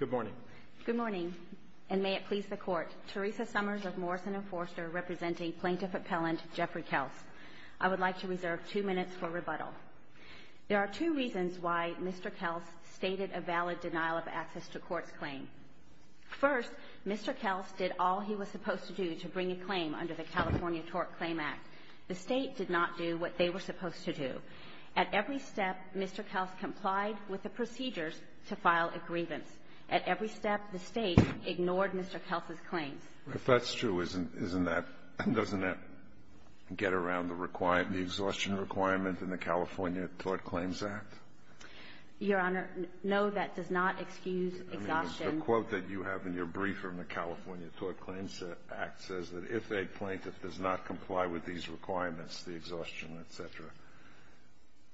Good morning. Good morning. And may it please the court. Teresa Summers of Morrison & Forster, representing Plaintiff Appellant Jeffrey Kelce. I would like to reserve two minutes for rebuttal. There are two reasons why Mr. Kelce stated a valid denial of access to court's claim. First, Mr. Kelce did all he was supposed to do to bring a claim under the California Tort Claim Act. The state did not do what they were supposed to do. At every step, Mr. Kelce complied with the procedures to file a grievance. At every step, the state ignored Mr. Kelce's claims. If that's true, isn't that — doesn't that get around the exhaustion requirement in the California Tort Claims Act? Your Honor, no, that does not excuse exhaustion. That means the quote that you have in your brief from the California Tort Claims Act says that if a plaintiff does not comply with these requirements, the exhaustion, et cetera,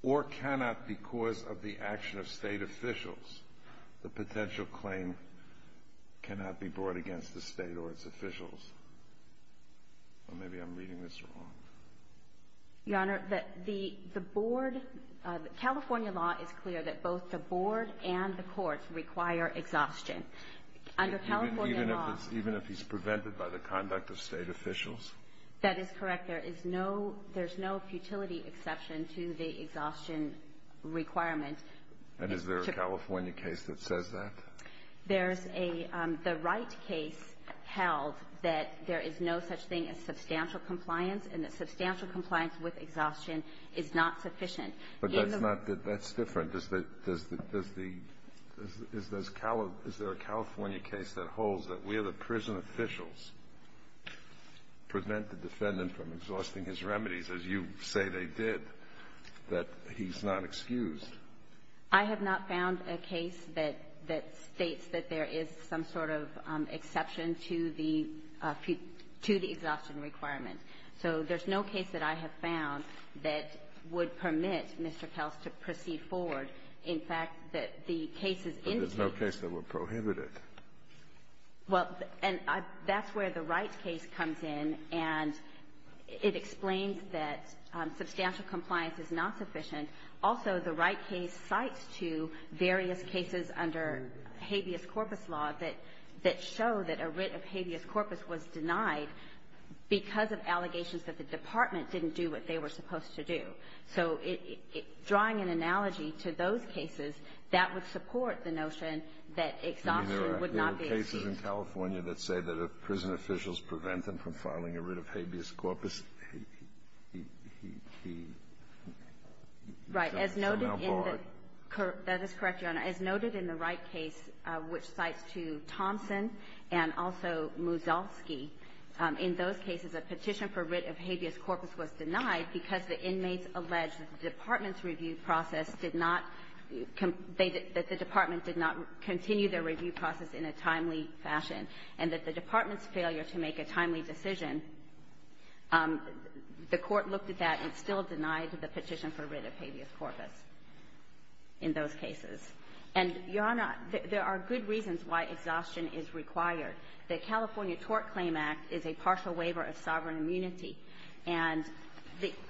or cannot because of the action of state officials, the potential claim cannot be brought against the state or its officials. Or maybe I'm reading this wrong. Your Honor, the board — California law is clear that both the board and the courts require exhaustion. Under California law — Even if it's — even if he's prevented by the conduct of state officials? That is correct. There is no — there's no futility exception to the exhaustion requirement. And is there a California case that says that? There's a — the Wright case held that there is no such thing as substantial compliance and that substantial compliance with exhaustion is not sufficient. But that's not — that's different. Does the — is there a California case that holds that we are the prison officials, prevent the defendant from exhausting his remedies, as you say they did, that he's not excused? I have not found a case that — that states that there is some sort of exception to the — to the exhaustion requirement. So there's no case that I have found that would permit Mr. Kels to proceed forward. In fact, that the case is indicating — But there's no case that would prohibit it. Well, and I — that's where the Wright case comes in, and it explains that substantial compliance is not sufficient. Also, the Wright case cites two various cases under habeas corpus law that — that show that a writ of habeas corpus was denied because of allegations that the department didn't do what they were supposed to do. So it — drawing an analogy to those cases, that would support the notion that exhaustion would not be excused. There are cases in California that say that if prison officials prevent them from filing a writ of habeas corpus, he — he — he — he — Right. As noted in the — That is correct, Your Honor. As noted in the Wright case, which cites two — Thompson and also Muzalski, in those cases, a petition for writ of habeas corpus was denied because the inmates And that the department's failure to make a timely decision, the Court looked at that and still denied the petition for writ of habeas corpus in those cases. And, Your Honor, there are good reasons why exhaustion is required. The California Tort Claim Act is a partial waiver of sovereign immunity, and the —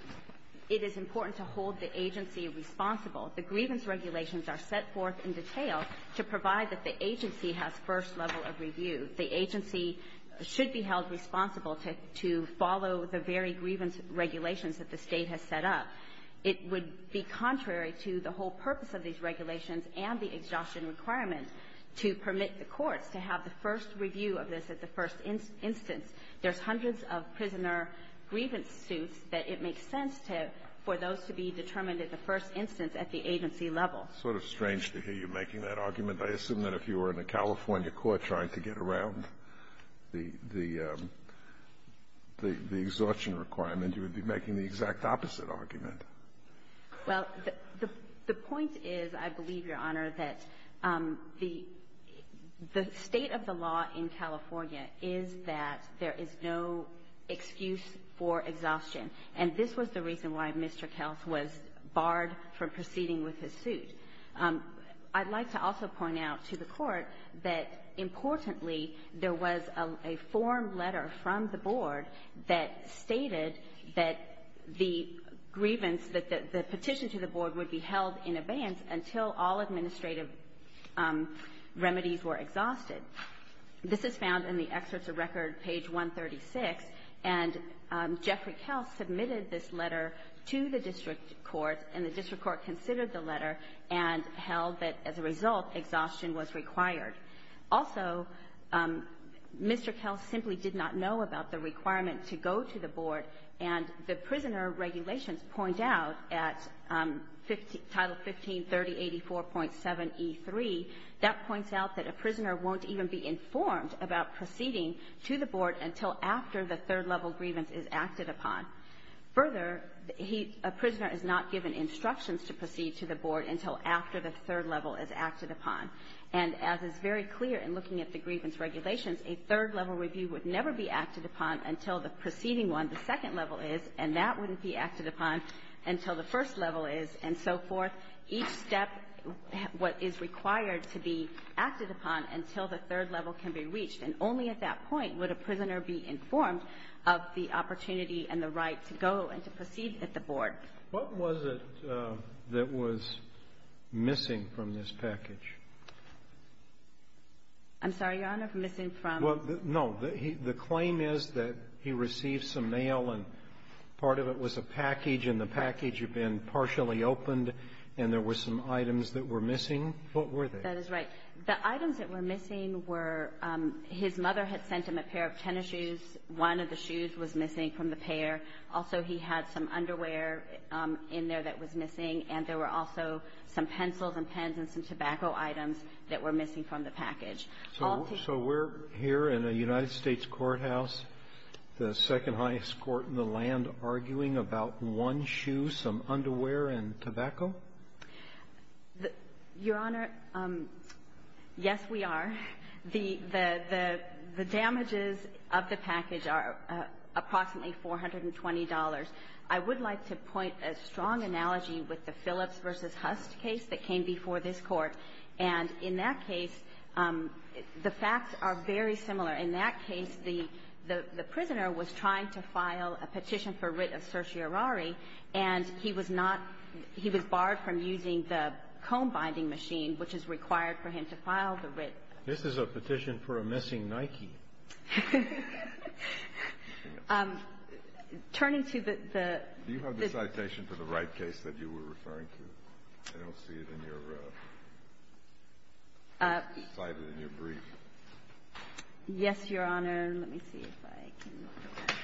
it is important to hold the agency responsible. The grievance regulations are set forth in detail to provide that the agency has first level of review. The agency should be held responsible to — to follow the very grievance regulations that the State has set up. It would be contrary to the whole purpose of these regulations and the exhaustion requirements to permit the courts to have the first review of this at the first instance. There's hundreds of prisoner grievance suits that it makes sense to — for those to be determined at the first instance at the agency level. It's sort of strange to hear you making that argument. I assume that if you were in a California court trying to get around the — the — the exhaustion requirement, you would be making the exact opposite argument. Well, the — the point is, I believe, Your Honor, that the — the state of the law in California is that there is no excuse for exhaustion. And this was the reason why Mr. Kels was barred from proceeding with his suit. I'd like to also point out to the Court that, importantly, there was a — a formed letter from the board that stated that the grievance — that the petition to the board would be held in abeyance until all administrative remedies were exhausted. This is found in the Excerpts of Record, page 136. And Jeffrey Kels submitted this letter to the district court, and the district court considered the letter and held that, as a result, exhaustion was required. Also, Mr. Kels simply did not know about the requirement to go to the board. And the prisoner regulations point out at Title 153084.7e3, that points out that a prisoner won't even be informed about proceeding to the board until after the third-level grievance is acted upon. Further, he — a prisoner is not given instructions to proceed to the board until after the third level is acted upon. And as is very clear in looking at the grievance regulations, a third-level review would never be acted upon until the preceding one, the second level is, and that wouldn't be acted upon until the first level is, and so forth. Each step is required to be acted upon until the third level can be reached. And only at that point would a prisoner be informed of the opportunity and the right to go and to proceed at the board. What was it that was missing from this package? I'm sorry, Your Honor, missing from? Well, no. The claim is that he received some mail, and part of it was a package, and the package had been partially opened, and there were some items that were missing. What were they? That is right. The items that were missing were — his mother had sent him a pair of tennis shoes. One of the shoes was missing from the pair. Also, he had some underwear in there that was missing, and there were also some pencils and pens and some tobacco items that were missing from the package. So we're here in a United States courthouse, the second-highest court in the land, arguing about one shoe, some underwear, and tobacco? Your Honor, yes, we are. The damages of the package are approximately $420. I would like to point a strong analogy with the Phillips v. Hust case that came before this Court. And in that case, the facts are very similar. In that case, the prisoner was trying to file a petition for writ of certiorari, and he was not — he was barred from using the comb binding machine, which is required for him to file the writ. This is a petition for a missing Nike. Turning to the — Do you have the citation for the Wright case that you were referring to? I don't see it in your — cited in your brief. Yes, Your Honor. Let me see if I can get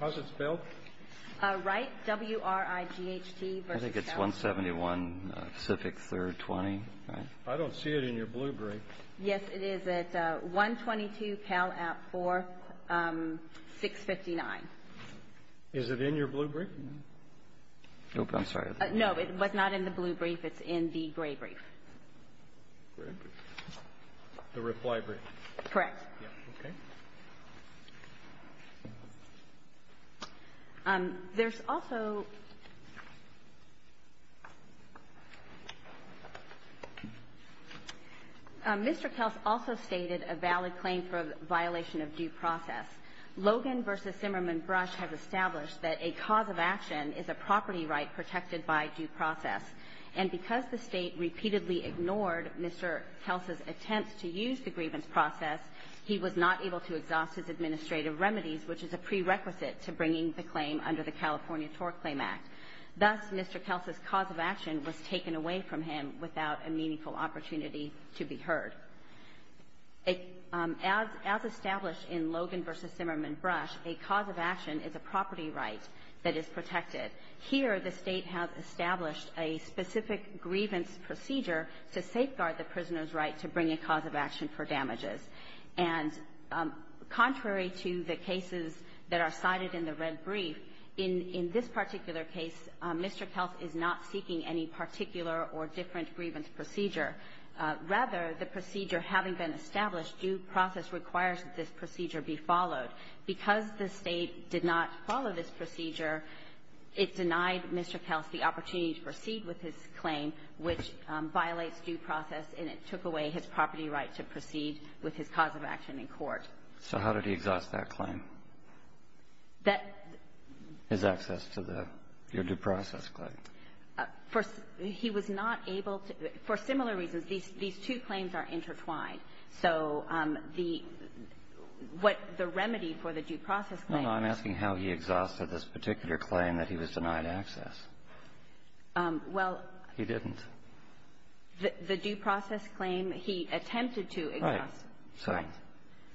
that. How's it spelled? Wright, W-R-I-G-H-T v. — I think it's 171 Pacific 3rd 20, right? I don't see it in your blue brief. Yes, it is. It's 122 Cal App 4659. Is it in your blue brief? Nope. I'm sorry. No, it was not in the blue brief. It's in the gray brief. The reply brief. Correct. Okay. There's also — Mr. Kels also stated a valid claim for a violation of due process. Logan v. Zimmerman Brush has established that a cause of action is a property right protected by due process. And because the State repeatedly ignored Mr. Kels' attempts to use the grievance process, he was not able to exhaust his administrative remedies, which is a prerequisite to bringing the claim under the California TORC Claim Act. Thus, Mr. Kels' cause of action was taken away from him without a meaningful opportunity to be heard. As established in Logan v. Zimmerman Brush, a cause of action is a property right that is protected. Here, the State has established a specific grievance procedure to safeguard the prisoner's right to bring a cause of action for damages. And contrary to the cases that are cited in the red brief, in this particular case, Mr. Kels is not seeking any particular or different grievance procedure. Rather, the procedure having been established, due process requires that this procedure be followed. Because the State did not follow this procedure, it denied Mr. Kels the opportunity to proceed with his claim, which violates due process, and it took away his property right to proceed with his cause of action in court. So how did he exhaust that claim? That — His access to the — your due process claim. First, he was not able to — for similar reasons, these two claims are intertwined. So the — what the remedy for the due process claim — No, no. I'm asking how he exhausted this particular claim that he was denied access. Well — He didn't. The due process claim, he attempted to exhaust. Right.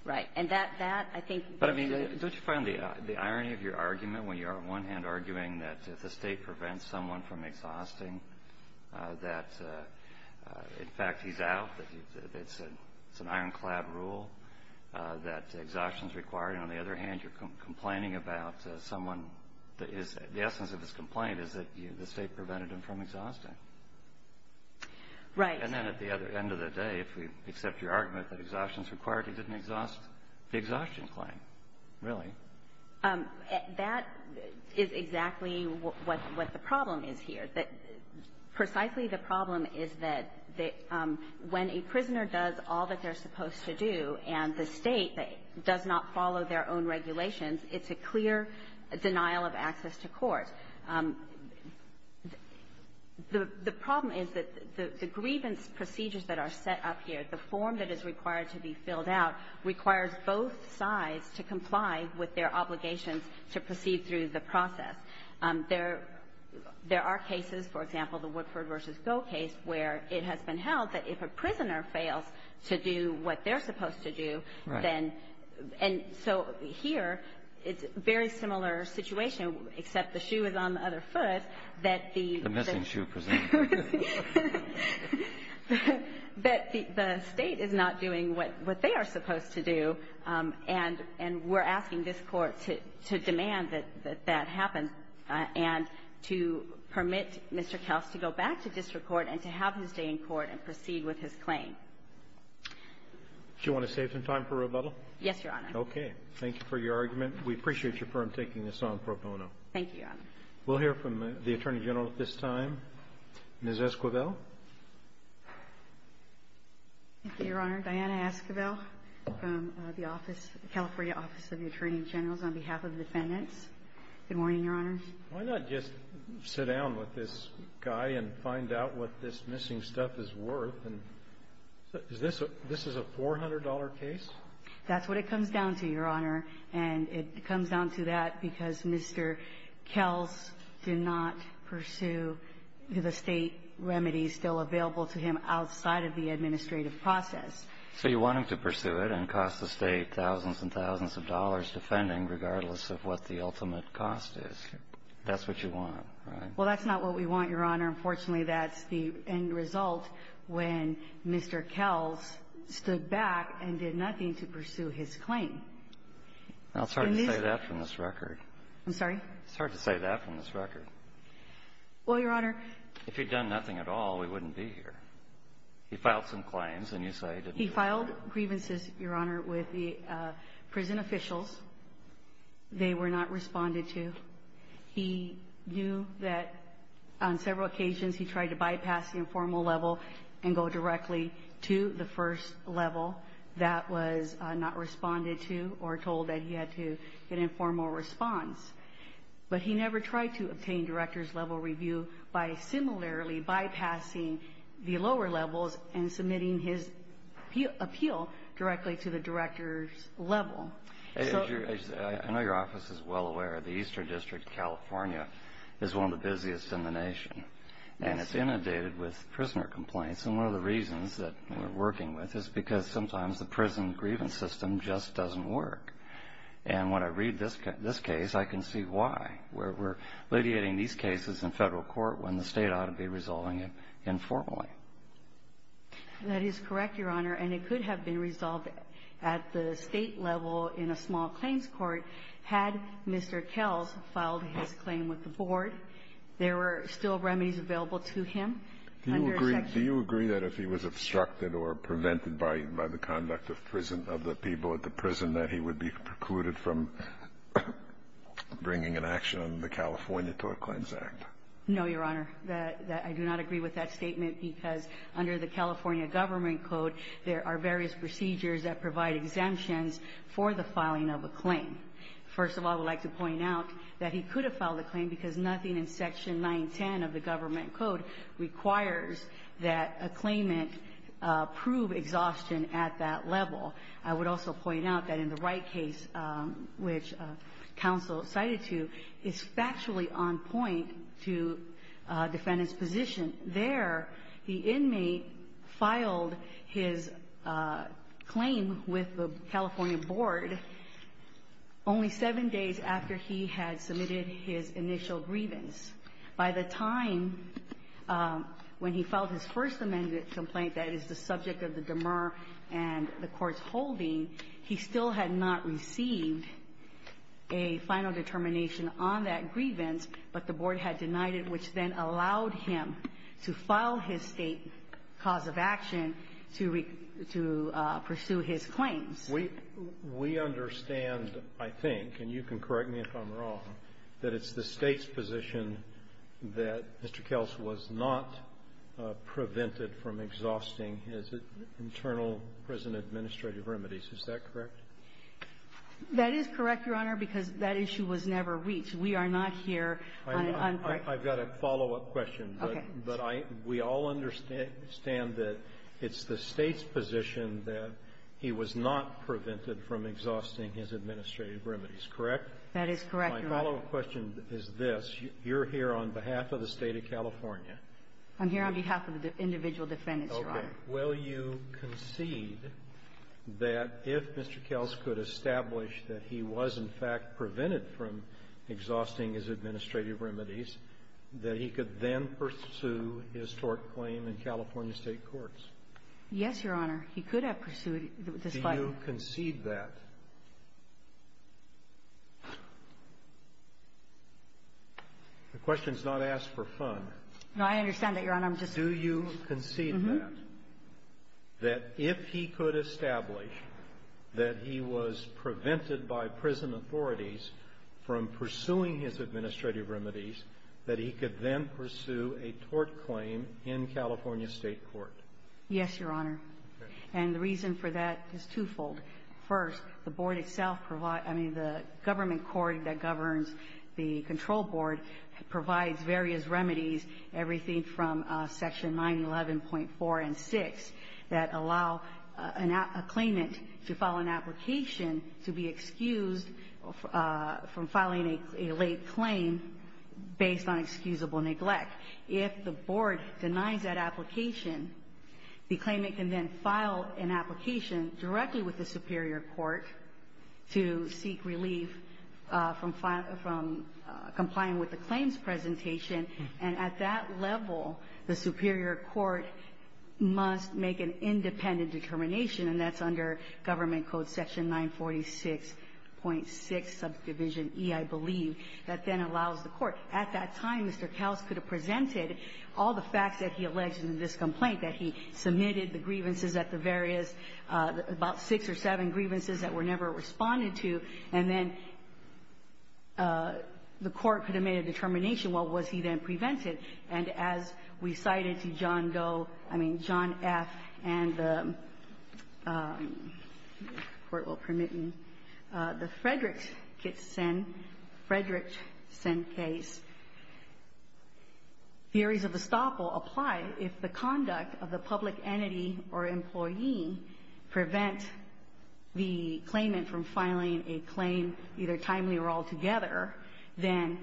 Right. And that, I think — But, I mean, don't you find the irony of your argument when you are, on one hand, arguing that if the State prevents someone from exhausting, that, in fact, he's out, that it's an ironclad rule that exhaustion is required, and on the other hand, you're complaining about someone that is — the essence of his complaint is that the State prevented him from exhausting? Right. And then at the other end of the day, if we accept your argument that exhaustion is required, he didn't exhaust the exhaustion claim, really. That is exactly what the problem is here, that precisely the problem is that when a prisoner does all that they're supposed to do and the State does not follow their own regulations, it's a clear denial of access to court. The problem is that the grievance procedures that are set up here, the form that is required to be filled out, requires both sides to comply with their obligations to proceed through the process. There are cases, for example, the Woodford v. Goh case, where it has been held that if a prisoner fails to do what they're supposed to do, then — Right. And so here, it's a very similar situation, except the shoe is on the other foot, that the — The missing shoe, presumably. But the State is not doing what they are supposed to do, and we're asking this Court to demand that that happens and to permit Mr. Kels to go back to district court and to have his day in court and proceed with his claim. Do you want to save some time for rebuttal? Yes, Your Honor. Okay. Thank you for your argument. We appreciate your firm taking this on pro bono. Thank you, Your Honor. We'll hear from the Attorney General at this time. Ms. Esquivel? Thank you, Your Honor. Diana Esquivel from the office, California Office of the Attorney General, on behalf of the defendants. Good morning, Your Honor. Why not just sit down with this guy and find out what this missing stuff is worth? Is this a — this is a $400 case? That's what it comes down to, Your Honor. And it comes down to that because Mr. Kels did not pursue the State remedies still available to him outside of the administrative process. So you want him to pursue it and cost the State thousands and thousands of dollars defending regardless of what the ultimate cost is. That's what you want, right? Well, that's not what we want, Your Honor. Unfortunately, that's the end result when Mr. Kels stood back and did nothing to pursue his claim. I'm sorry to say that from this record. I'm sorry? It's hard to say that from this record. Well, Your Honor — If he'd done nothing at all, we wouldn't be here. He filed some claims and you say he didn't do anything. He filed grievances, Your Honor, with the prison officials. They were not responded to. He knew that on several occasions he tried to bypass the informal level and go directly to the first level. That was not responded to or told that he had to get an informal response. But he never tried to obtain director's level review by similarly bypassing the lower levels and submitting his appeal directly to the director's level. I know your office is well aware of the Eastern District, California, is one of the busiest in the nation. Yes. And it's inundated with prisoner complaints. And one of the reasons that we're working with is because sometimes the prison grievance system just doesn't work. And when I read this case, I can see why. We're alleviating these cases in Federal court when the State ought to be resolving it informally. That is correct, Your Honor. And it could have been resolved at the State level in a small claims court had Mr. Kells filed his claim with the Board. There were still remedies available to him. Do you agree that if he was obstructed or prevented by the conduct of prison, of the people at the prison, that he would be precluded from bringing an action on the California Tort Claims Act? No, Your Honor. I do not agree with that statement because under the California government code, there are various procedures that provide exemptions for the filing of a claim. First of all, I would like to point out that he could have filed a claim because nothing in Section 910 of the government code requires that a claimant prove exhaustion at that level. I would also point out that in the Wright case, which counsel cited to, is factually on point to defendant's position. There, the inmate filed his claim with the California Board only seven days after he had submitted his initial grievance. By the time when he filed his first amended complaint that is the subject of the demer and the Court's holding, he still had not received a final determination on that grievance, but the Board had denied it, which then allowed him to file his State cause of action to pursue his claims. We understand, I think, and you can correct me if I'm wrong, that it's the State's position that Mr. Kels was not prevented from exhausting his internal prison administrative remedies. Is that correct? That is correct, Your Honor, because that issue was never reached. We are not here on the court. I've got a follow-up question. Okay. But we all understand that it's the State's position that he was not prevented from exhausting his administrative remedies, correct? That is correct, Your Honor. My follow-up question is this. You're here on behalf of the State of California. I'm here on behalf of the individual defendants, Your Honor. Okay. Will you concede that if Mr. Kels could establish that he was, in fact, prevented from exhausting his administrative remedies, that he could then pursue his tort claim in California State courts? Yes, Your Honor. He could have pursued it, despite the ---- Do you concede that? The question is not asked for fun. No, I understand that, Your Honor. I'm just ---- Do you concede that? Uh-huh. That he was prevented by prison authorities from pursuing his administrative remedies, that he could then pursue a tort claim in California State court? Yes, Your Honor. And the reason for that is twofold. First, the Board itself provides ---- I mean, the government court that governs the control board provides various remedies, everything from Section 911.4 and 6, that allow a claimant to file an application to be excused from filing a late claim based on excusable neglect. If the Board denies that application, the claimant can then file an application directly with the superior court to seek relief from complying with the claims presentation. And at that level, the superior court must make an independent determination, and that's under Government Code Section 946.6, Subdivision E, I believe, that then allows the court. At that time, Mr. Kaus could have presented all the facts that he alleged in this complaint, that he submitted the grievances at the various ---- about six or seven And as we cited to John Doe ---- I mean, John F. and the, if the Court will permit me, the Frederickson case, theories of estoppel apply if the conduct of the public entity or employee prevent the claimant from filing a claim either timely or altogether, then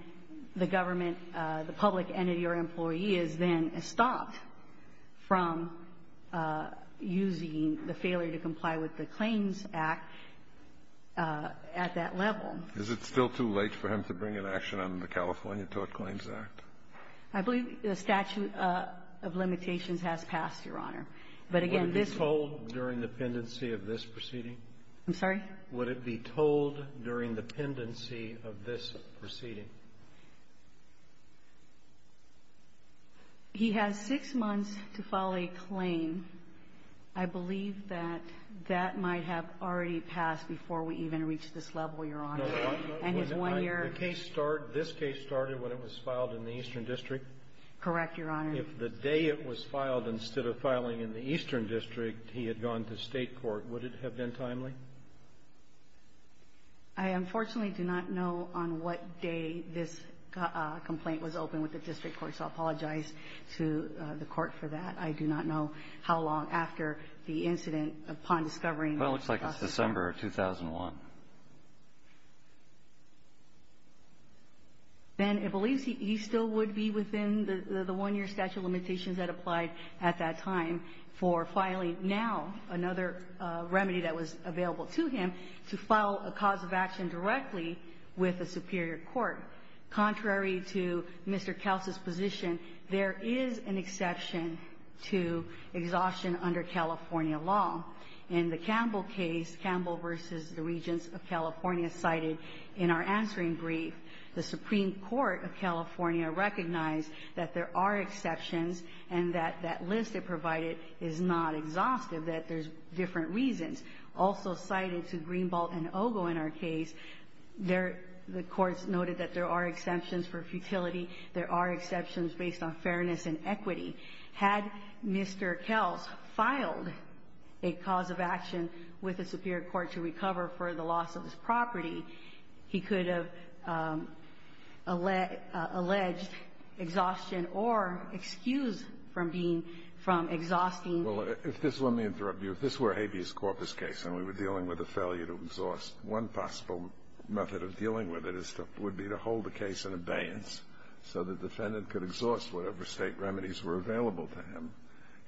the government, the public entity or employee is then estopped from using the failure to comply with the Claims Act at that level. Is it still too late for him to bring an action on the California Tort Claims Act? I believe the statute of limitations has passed, Your Honor. But again, this ---- Would it be told during the pendency of this proceeding? I'm sorry? Would it be told during the pendency of this proceeding? He has six months to file a claim. I believe that that might have already passed before we even reached this level, Your Honor. And his one year ---- The case start ---- this case started when it was filed in the Eastern District? Correct, Your Honor. If the day it was filed, instead of filing in the Eastern District, he had gone to State I unfortunately do not know on what day this complaint was opened with the District Court, so I apologize to the Court for that. I do not know how long after the incident, upon discovering the process ---- Well, it looks like it's December of 2001. Ben, it believes he still would be within the one year statute of limitations that applied at that time for filing now another remedy that was available to him to file a cause of action directly with a superior court. Contrary to Mr. Kelce's position, there is an exception to exhaustion under California law. In the Campbell case, Campbell v. the Regents of California, cited in our answering brief, the Supreme Court of California recognized that there are exceptions and that that list it provided is not exhaustive, that there's different reasons. Also cited to Greenbault and Ogle in our case, the courts noted that there are exceptions for futility. There are exceptions based on fairness and equity. Had Mr. Kelce filed a cause of action with a superior court to recover for the loss of his property, he could have alleged exhaustion or excused from being ---- from exhausting. Well, if this ---- let me interrupt you. If this were a habeas corpus case and we were dealing with a failure to exhaust, one possible method of dealing with it is to ---- would be to hold the case in abeyance so the defendant could exhaust whatever State remedies were available to him.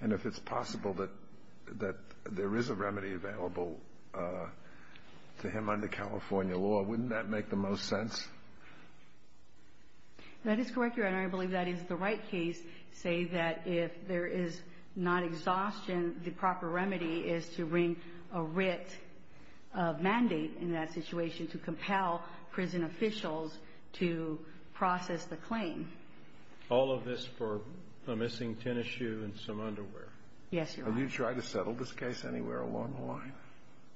And if it's possible that there is a remedy available to him under California law, wouldn't that make the most sense? That is correct, Your Honor. I believe that is the right case to say that if there is not exhaustion, the proper remedy is to bring a writ of mandate in that situation to compel prison officials to process the claim. All of this for a missing tennis shoe and some underwear? Yes, Your Honor. Have you tried to settle this case anywhere along the line?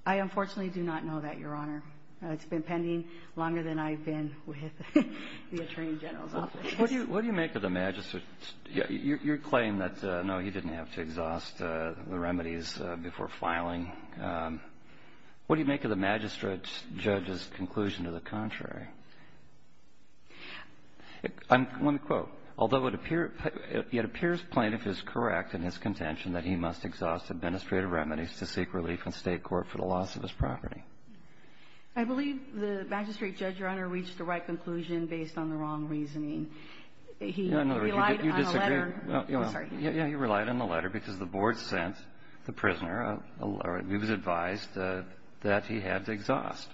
I unfortunately do not know that, Your Honor. It's been pending longer than I've been with the Attorney General's office. What do you make of the magistrate's ---- your claim that, no, he didn't have to exhaust the remedies before filing, what do you make of the magistrate's judge's conclusion to the contrary? I'm going to quote. Although it appears plaintiff is correct in his contention that he must exhaust administrative remedies to seek relief in State court for the loss of his property. I believe the magistrate judge, Your Honor, reached the right conclusion based on the wrong reasoning. He relied on the letter. You disagree. I'm sorry. Yeah, he relied on the letter because the board sent the prisoner. He was advised that he had to exhaust.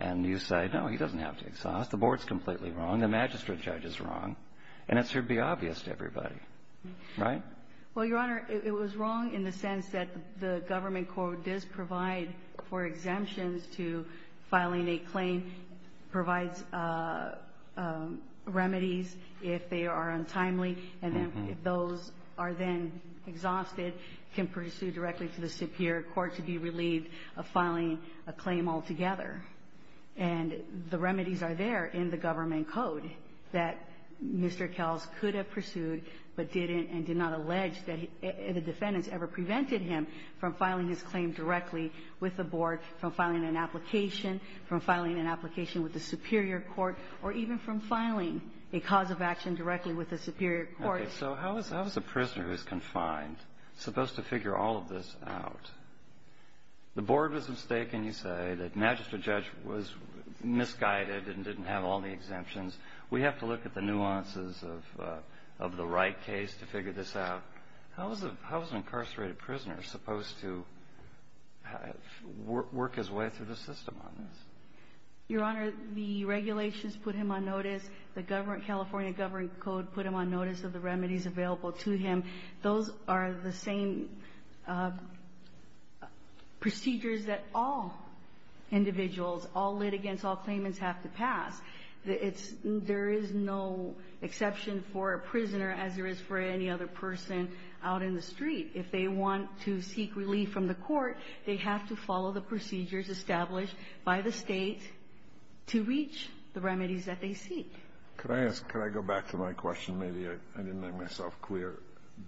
And you say, no, he doesn't have to exhaust. The board's completely wrong. The magistrate judge is wrong. And it should be obvious to everybody. Right? Well, Your Honor, it was wrong in the sense that the government court does provide for exemptions to filing a claim, provides remedies if they are untimely, and then if those are then exhausted, can pursue directly to the superior court to be relieved of filing a claim altogether. And the remedies are there in the government code that Mr. Kells could have pursued but didn't and did not allege that the defendants ever prevented him from filing his claim directly with the board, from filing an application, from filing an application with the superior court, or even from filing a cause of action directly with the superior court. Okay. So how is a prisoner who's confined supposed to figure all of this out? The board was mistaken, you say, that magistrate judge was misguided and didn't have all the exemptions. We have to look at the nuances of the Wright case to figure this out. How is an incarcerated prisoner supposed to work his way through the system on this? Your Honor, the regulations put him on notice. The California government code put him on notice of the remedies available to him. Those are the same procedures that all individuals, all litigants, all claimants have to pass. There is no exception for a prisoner as there is for any other person out in the street. If they want to seek relief from the court, they have to follow the procedures established by the State to reach the remedies that they seek. Could I ask, could I go back to my question? Maybe I didn't make myself clear.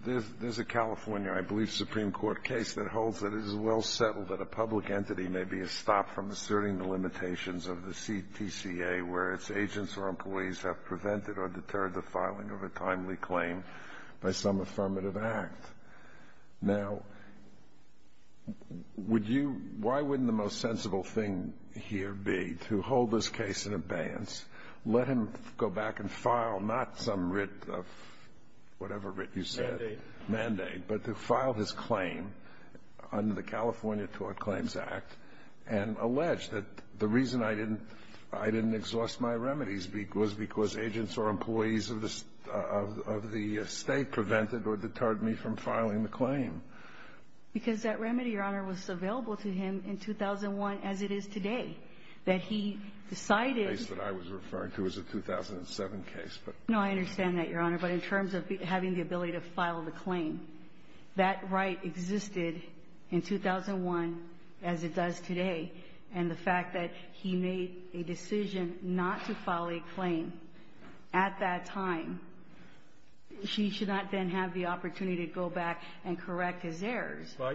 There's a California, I believe, supreme court case that holds that it is well settled that a public entity may be estopped from asserting the limitations of the CTCA where its agents or employees have prevented or deterred the filing of a timely claim by some affirmative act. Now, would you, why wouldn't the most sensible thing here be to hold this case in abeyance, let him go back and file not some writ of, whatever writ you said. Mandate. Mandate, but to file his claim under the California Tort Claims Act and allege that the reason I didn't exhaust my remedies was because agents or employees of the State prevented or deterred me from filing the claim. Because that remedy, Your Honor, was available to him in 2001 as it is today. That he decided. The case that I was referring to is a 2007 case. No, I understand that, Your Honor, but in terms of having the ability to file the claim, that right existed in 2001 as it does today. And the fact that he made a decision not to file a claim at that time, he should not then have the opportunity to go back and correct his errors. Well,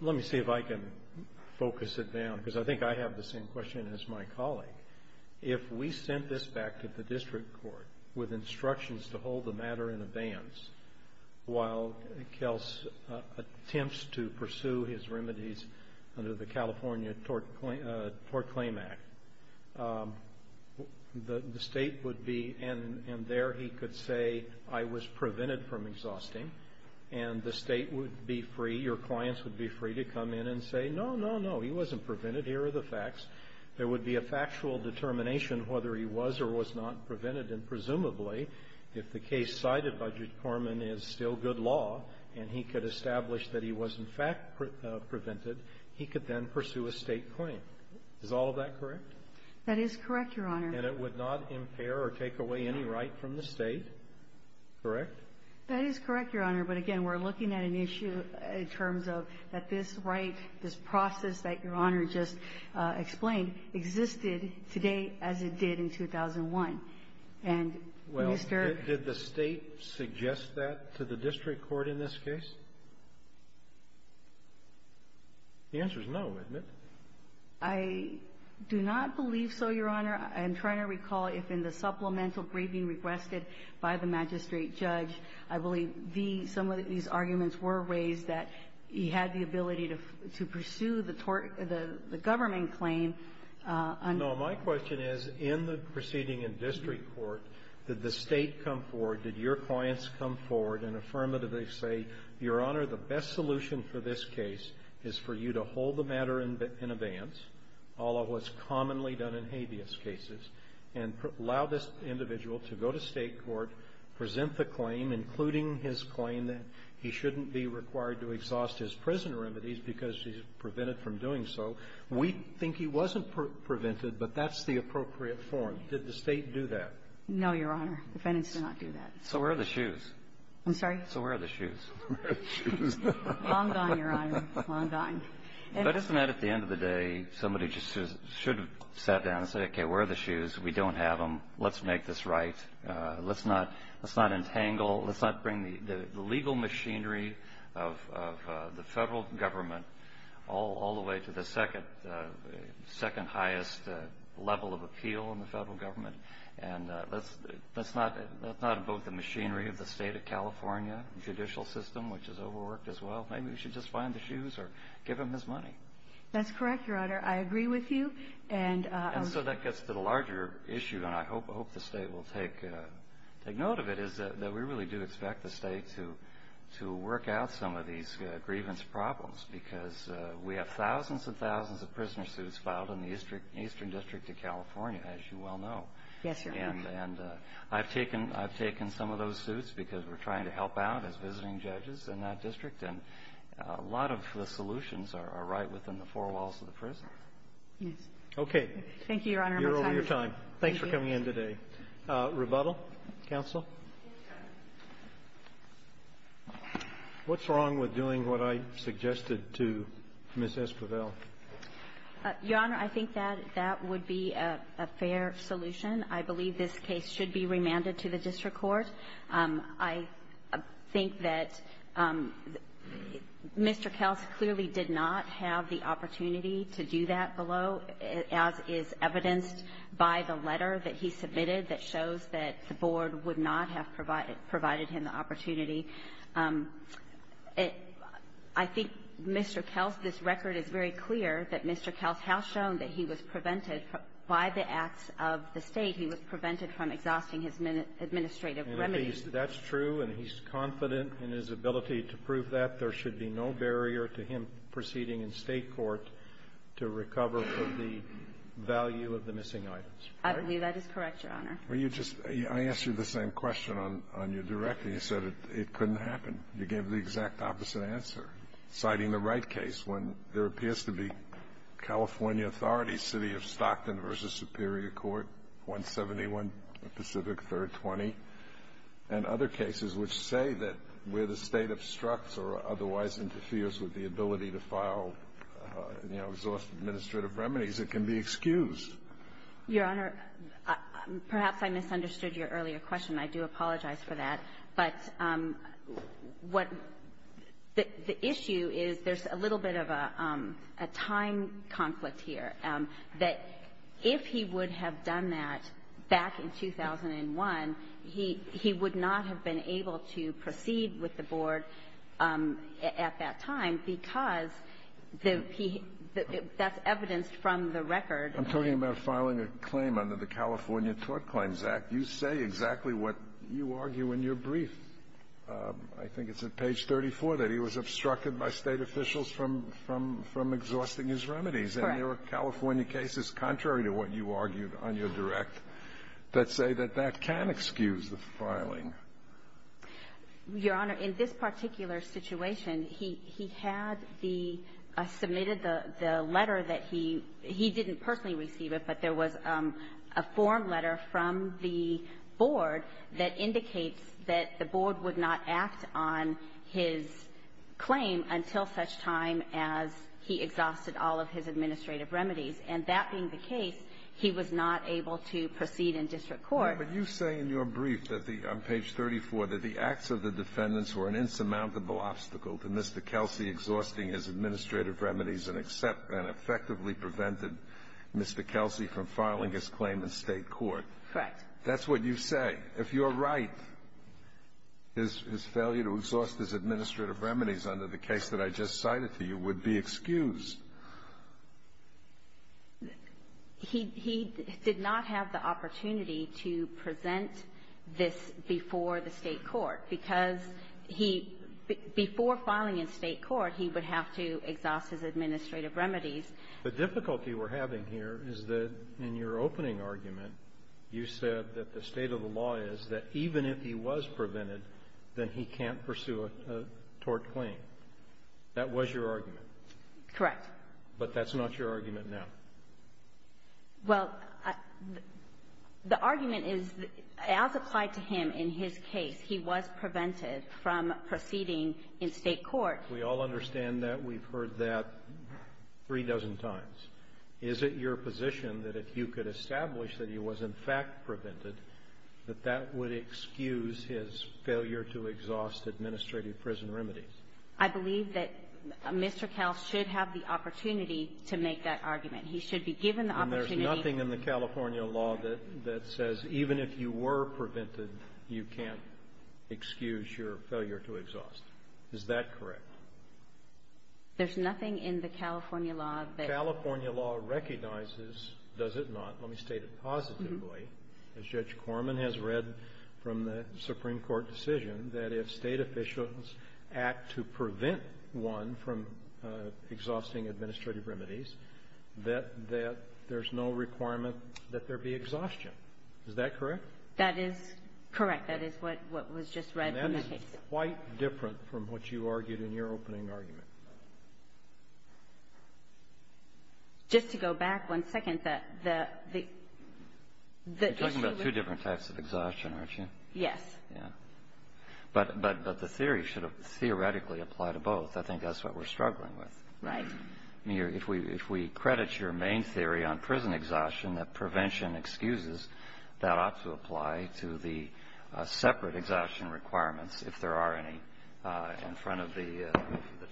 let me see if I can focus it down, because I think I have the same question as my colleague. If we sent this back to the district court with instructions to hold the matter in abeyance while Kels attempts to pursue his remedies under the California Tort Claim Act, the State would be, and there he could say, I was prevented from exhausting. And the State would be free, your clients would be free to come in and say, No, no, no, he wasn't prevented. Here are the facts. There would be a factual determination whether he was or was not prevented. And presumably, if the case cited by Judge Korman is still good law, and he could establish that he was in fact prevented, he could then pursue a State claim. Is all of that correct? That is correct, your Honor. And it would not impair or take away any right from the State, correct? That is correct, your Honor. But again, we're looking at an issue in terms of that this right, this process that your Honor just explained, existed today as it did in 2001. And, Mr. ---- Did the State suggest that to the district court in this case? The answer is no, isn't it? I do not believe so, your Honor. I'm trying to recall if in the supplemental briefing requested by the magistrate judge, I believe the ---- some of these arguments were raised that he had the ability to pursue the tort ---- the government claim. No. My question is, in the proceeding in district court, did the State come forward, did your clients come forward and affirmatively say, your Honor, the best solution for this case is for you to hold the matter in advance, all of what's commonly done in habeas cases, and allow this individual to go to State court, present the claim, including his claim that he shouldn't be required to exhaust his prison remedies because he's prevented from doing so. We think he wasn't prevented, but that's the appropriate form. Did the State do that? No, your Honor. The defendants did not do that. So where are the shoes? I'm sorry? So where are the shoes? Where are the shoes? Long gone, your Honor. Long gone. But isn't that, at the end of the day, somebody just should have sat down and said, okay, where are the shoes? We don't have them. Let's make this right. Let's not ---- let's not entangle, let's not bring the legal machinery of the Federal Government all the way to the second, second-highest level of appeal in the Federal Government. And let's not ---- let's not invoke the machinery of the State of California judicial system, which is overworked as well. Maybe we should just find the shoes or give him his money. That's correct, your Honor. I agree with you. And ---- And so that gets to the larger issue, and I hope the State will take note of it, is that we really do expect the State to work out some of these grievance problems, because we have thousands and thousands of prisoner suits filed in the Eastern District of California, as you well know. Yes, your Honor. And I've taken some of those suits because we're trying to help out as visiting judges in that district, and a lot of the solutions are right within the four walls of the prison. Yes. Okay. Thank you, your Honor. You're over your time. Thanks for coming in today. Rebuttal? Counsel? What's wrong with doing what I suggested to Ms. Esquivel? Your Honor, I think that that would be a fair solution. I believe this case should be remanded to the district court. I think that Mr. Kels clearly did not have the opportunity to do that below, as is the letter that he submitted that shows that the board would not have provided him the opportunity. I think Mr. Kels, this record is very clear that Mr. Kels has shown that he was prevented by the acts of the State. He was prevented from exhausting his administrative remedies. And that's true, and he's confident in his ability to prove that. There should be no barrier to him proceeding in State court to recover the value of the missing items. I believe that is correct, your Honor. Well, you just – I asked you the same question on your directive. You said it couldn't happen. You gave the exact opposite answer, citing the Wright case when there appears to be California authorities, City of Stockton v. Superior Court, 171 Pacific 3rd 20, and other cases which say that where the State obstructs or otherwise interferes with the ability to file, you know, exhaust administrative remedies, it can be excused. Your Honor, perhaps I misunderstood your earlier question. I do apologize for that. But what the issue is, there's a little bit of a time conflict here, that if he would have done that back in 2001, he would not have been able to proceed with the board at that time because the – that's evidenced from the record. I'm talking about filing a claim under the California Tort Claims Act. You say exactly what you argue in your brief. I think it's at page 34 that he was obstructed by State officials from – from – from exhausting his remedies. Correct. And there are California cases contrary to what you argued on your direct that say that that can excuse the filing. Your Honor, in this particular situation, he – he had the – submitted the letter that he – he didn't personally receive it, but there was a form letter from the board that indicates that the board would not act on his claim until such time as he exhausted all of his administrative remedies. And that being the case, he was not able to proceed in district court. Your Honor, but you say in your brief that the – on page 34 that the acts of the defendants were an insurmountable obstacle to Mr. Kelsey exhausting his administrative remedies and effectively prevented Mr. Kelsey from filing his claim in State court. Correct. That's what you say. If you're right, his – his failure to exhaust his administrative remedies under the case that I just cited to you would be excused. He – he did not have the opportunity to present this before the State court because he – before filing in State court, he would have to exhaust his administrative remedies. The difficulty we're having here is that in your opening argument, you said that the state of the law is that even if he was prevented, then he can't pursue a tort claim. That was your argument. Correct. But that's not your argument now. Well, the argument is, as applied to him in his case, he was prevented from proceeding in State court. We all understand that. We've heard that three dozen times. Is it your position that if you could establish that he was in fact prevented, that that would excuse his failure to exhaust administrative prison remedies? I believe that Mr. Kell should have the opportunity to make that argument. He should be given the opportunity. And there's nothing in the California law that – that says even if you were prevented, you can't excuse your failure to exhaust. Is that correct? There's nothing in the California law that – The California law recognizes, does it not, let me state it positively, as Judge to prevent one from exhausting administrative remedies, that – that there's no requirement that there be exhaustion. Is that correct? That is correct. That is what was just read from that case. And that is quite different from what you argued in your opening argument. Just to go back one second, the – the – You're talking about two different types of exhaustion, aren't you? Yes. Yeah. But – but – but the theory should have theoretically applied to both. I think that's what we're struggling with. Right. I mean, if we – if we credit your main theory on prison exhaustion, that prevention excuses, that ought to apply to the separate exhaustion requirements if there are any in front of the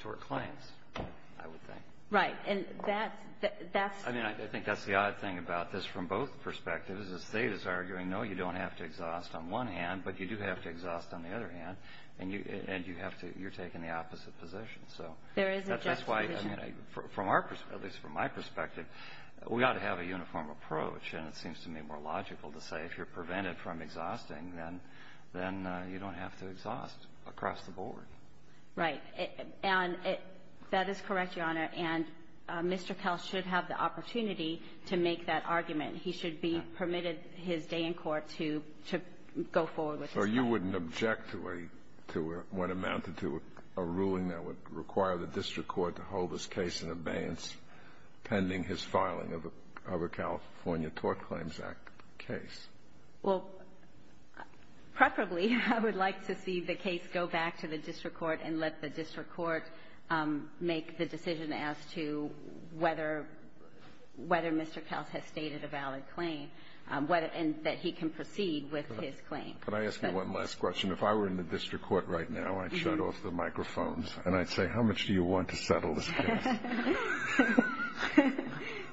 tort claims, I would think. Right. And that's – that's – I mean, I think that's the odd thing about this from both perspectives. The State is arguing, no, you don't have to exhaust on one hand, but you do have to exhaust on the other hand, and you – and you have to – you're taking the opposite position, so. There is a just position. That's why, I mean, from our – at least from my perspective, we ought to have a uniform approach, and it seems to me more logical to say if you're prevented from exhausting, then – then you don't have to exhaust across the board. Right. And it – that is correct, Your Honor, and Mr. Kelce should have the opportunity to make that argument. He should be permitted his day in court to – to go forward with his case. So you wouldn't object to a – to what amounted to a ruling that would require the district court to hold this case in abeyance pending his filing of a California Tort Claims Act case? Well, preferably, I would like to see the case go back to the district court and let the district court make the decision as to whether – whether Mr. Kelce has stated a valid claim, whether – and that he can proceed with his claim. Could I ask you one last question? If I were in the district court right now, I'd shut off the microphones, and I'd say, how much do you want to settle this case?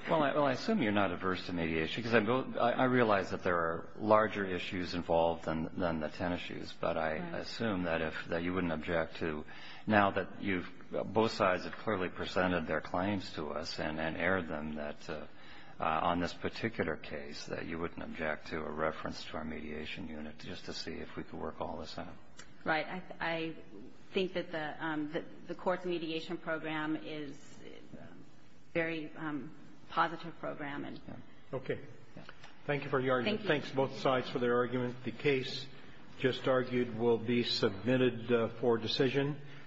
Well, I – well, I assume you're not averse to mediation, because I realize that there are larger issues involved than – than the 10 issues, but I assume that if – that you wouldn't object to – now that you've – both sides have clearly presented their particular case, that you wouldn't object to a reference to our mediation unit just to see if we could work all this out. Right. I think that the – that the court's mediation program is a very positive program and – Okay. Thank you for your argument. Thank you. Thanks, both sides, for their argument. The case just argued will be submitted for decision.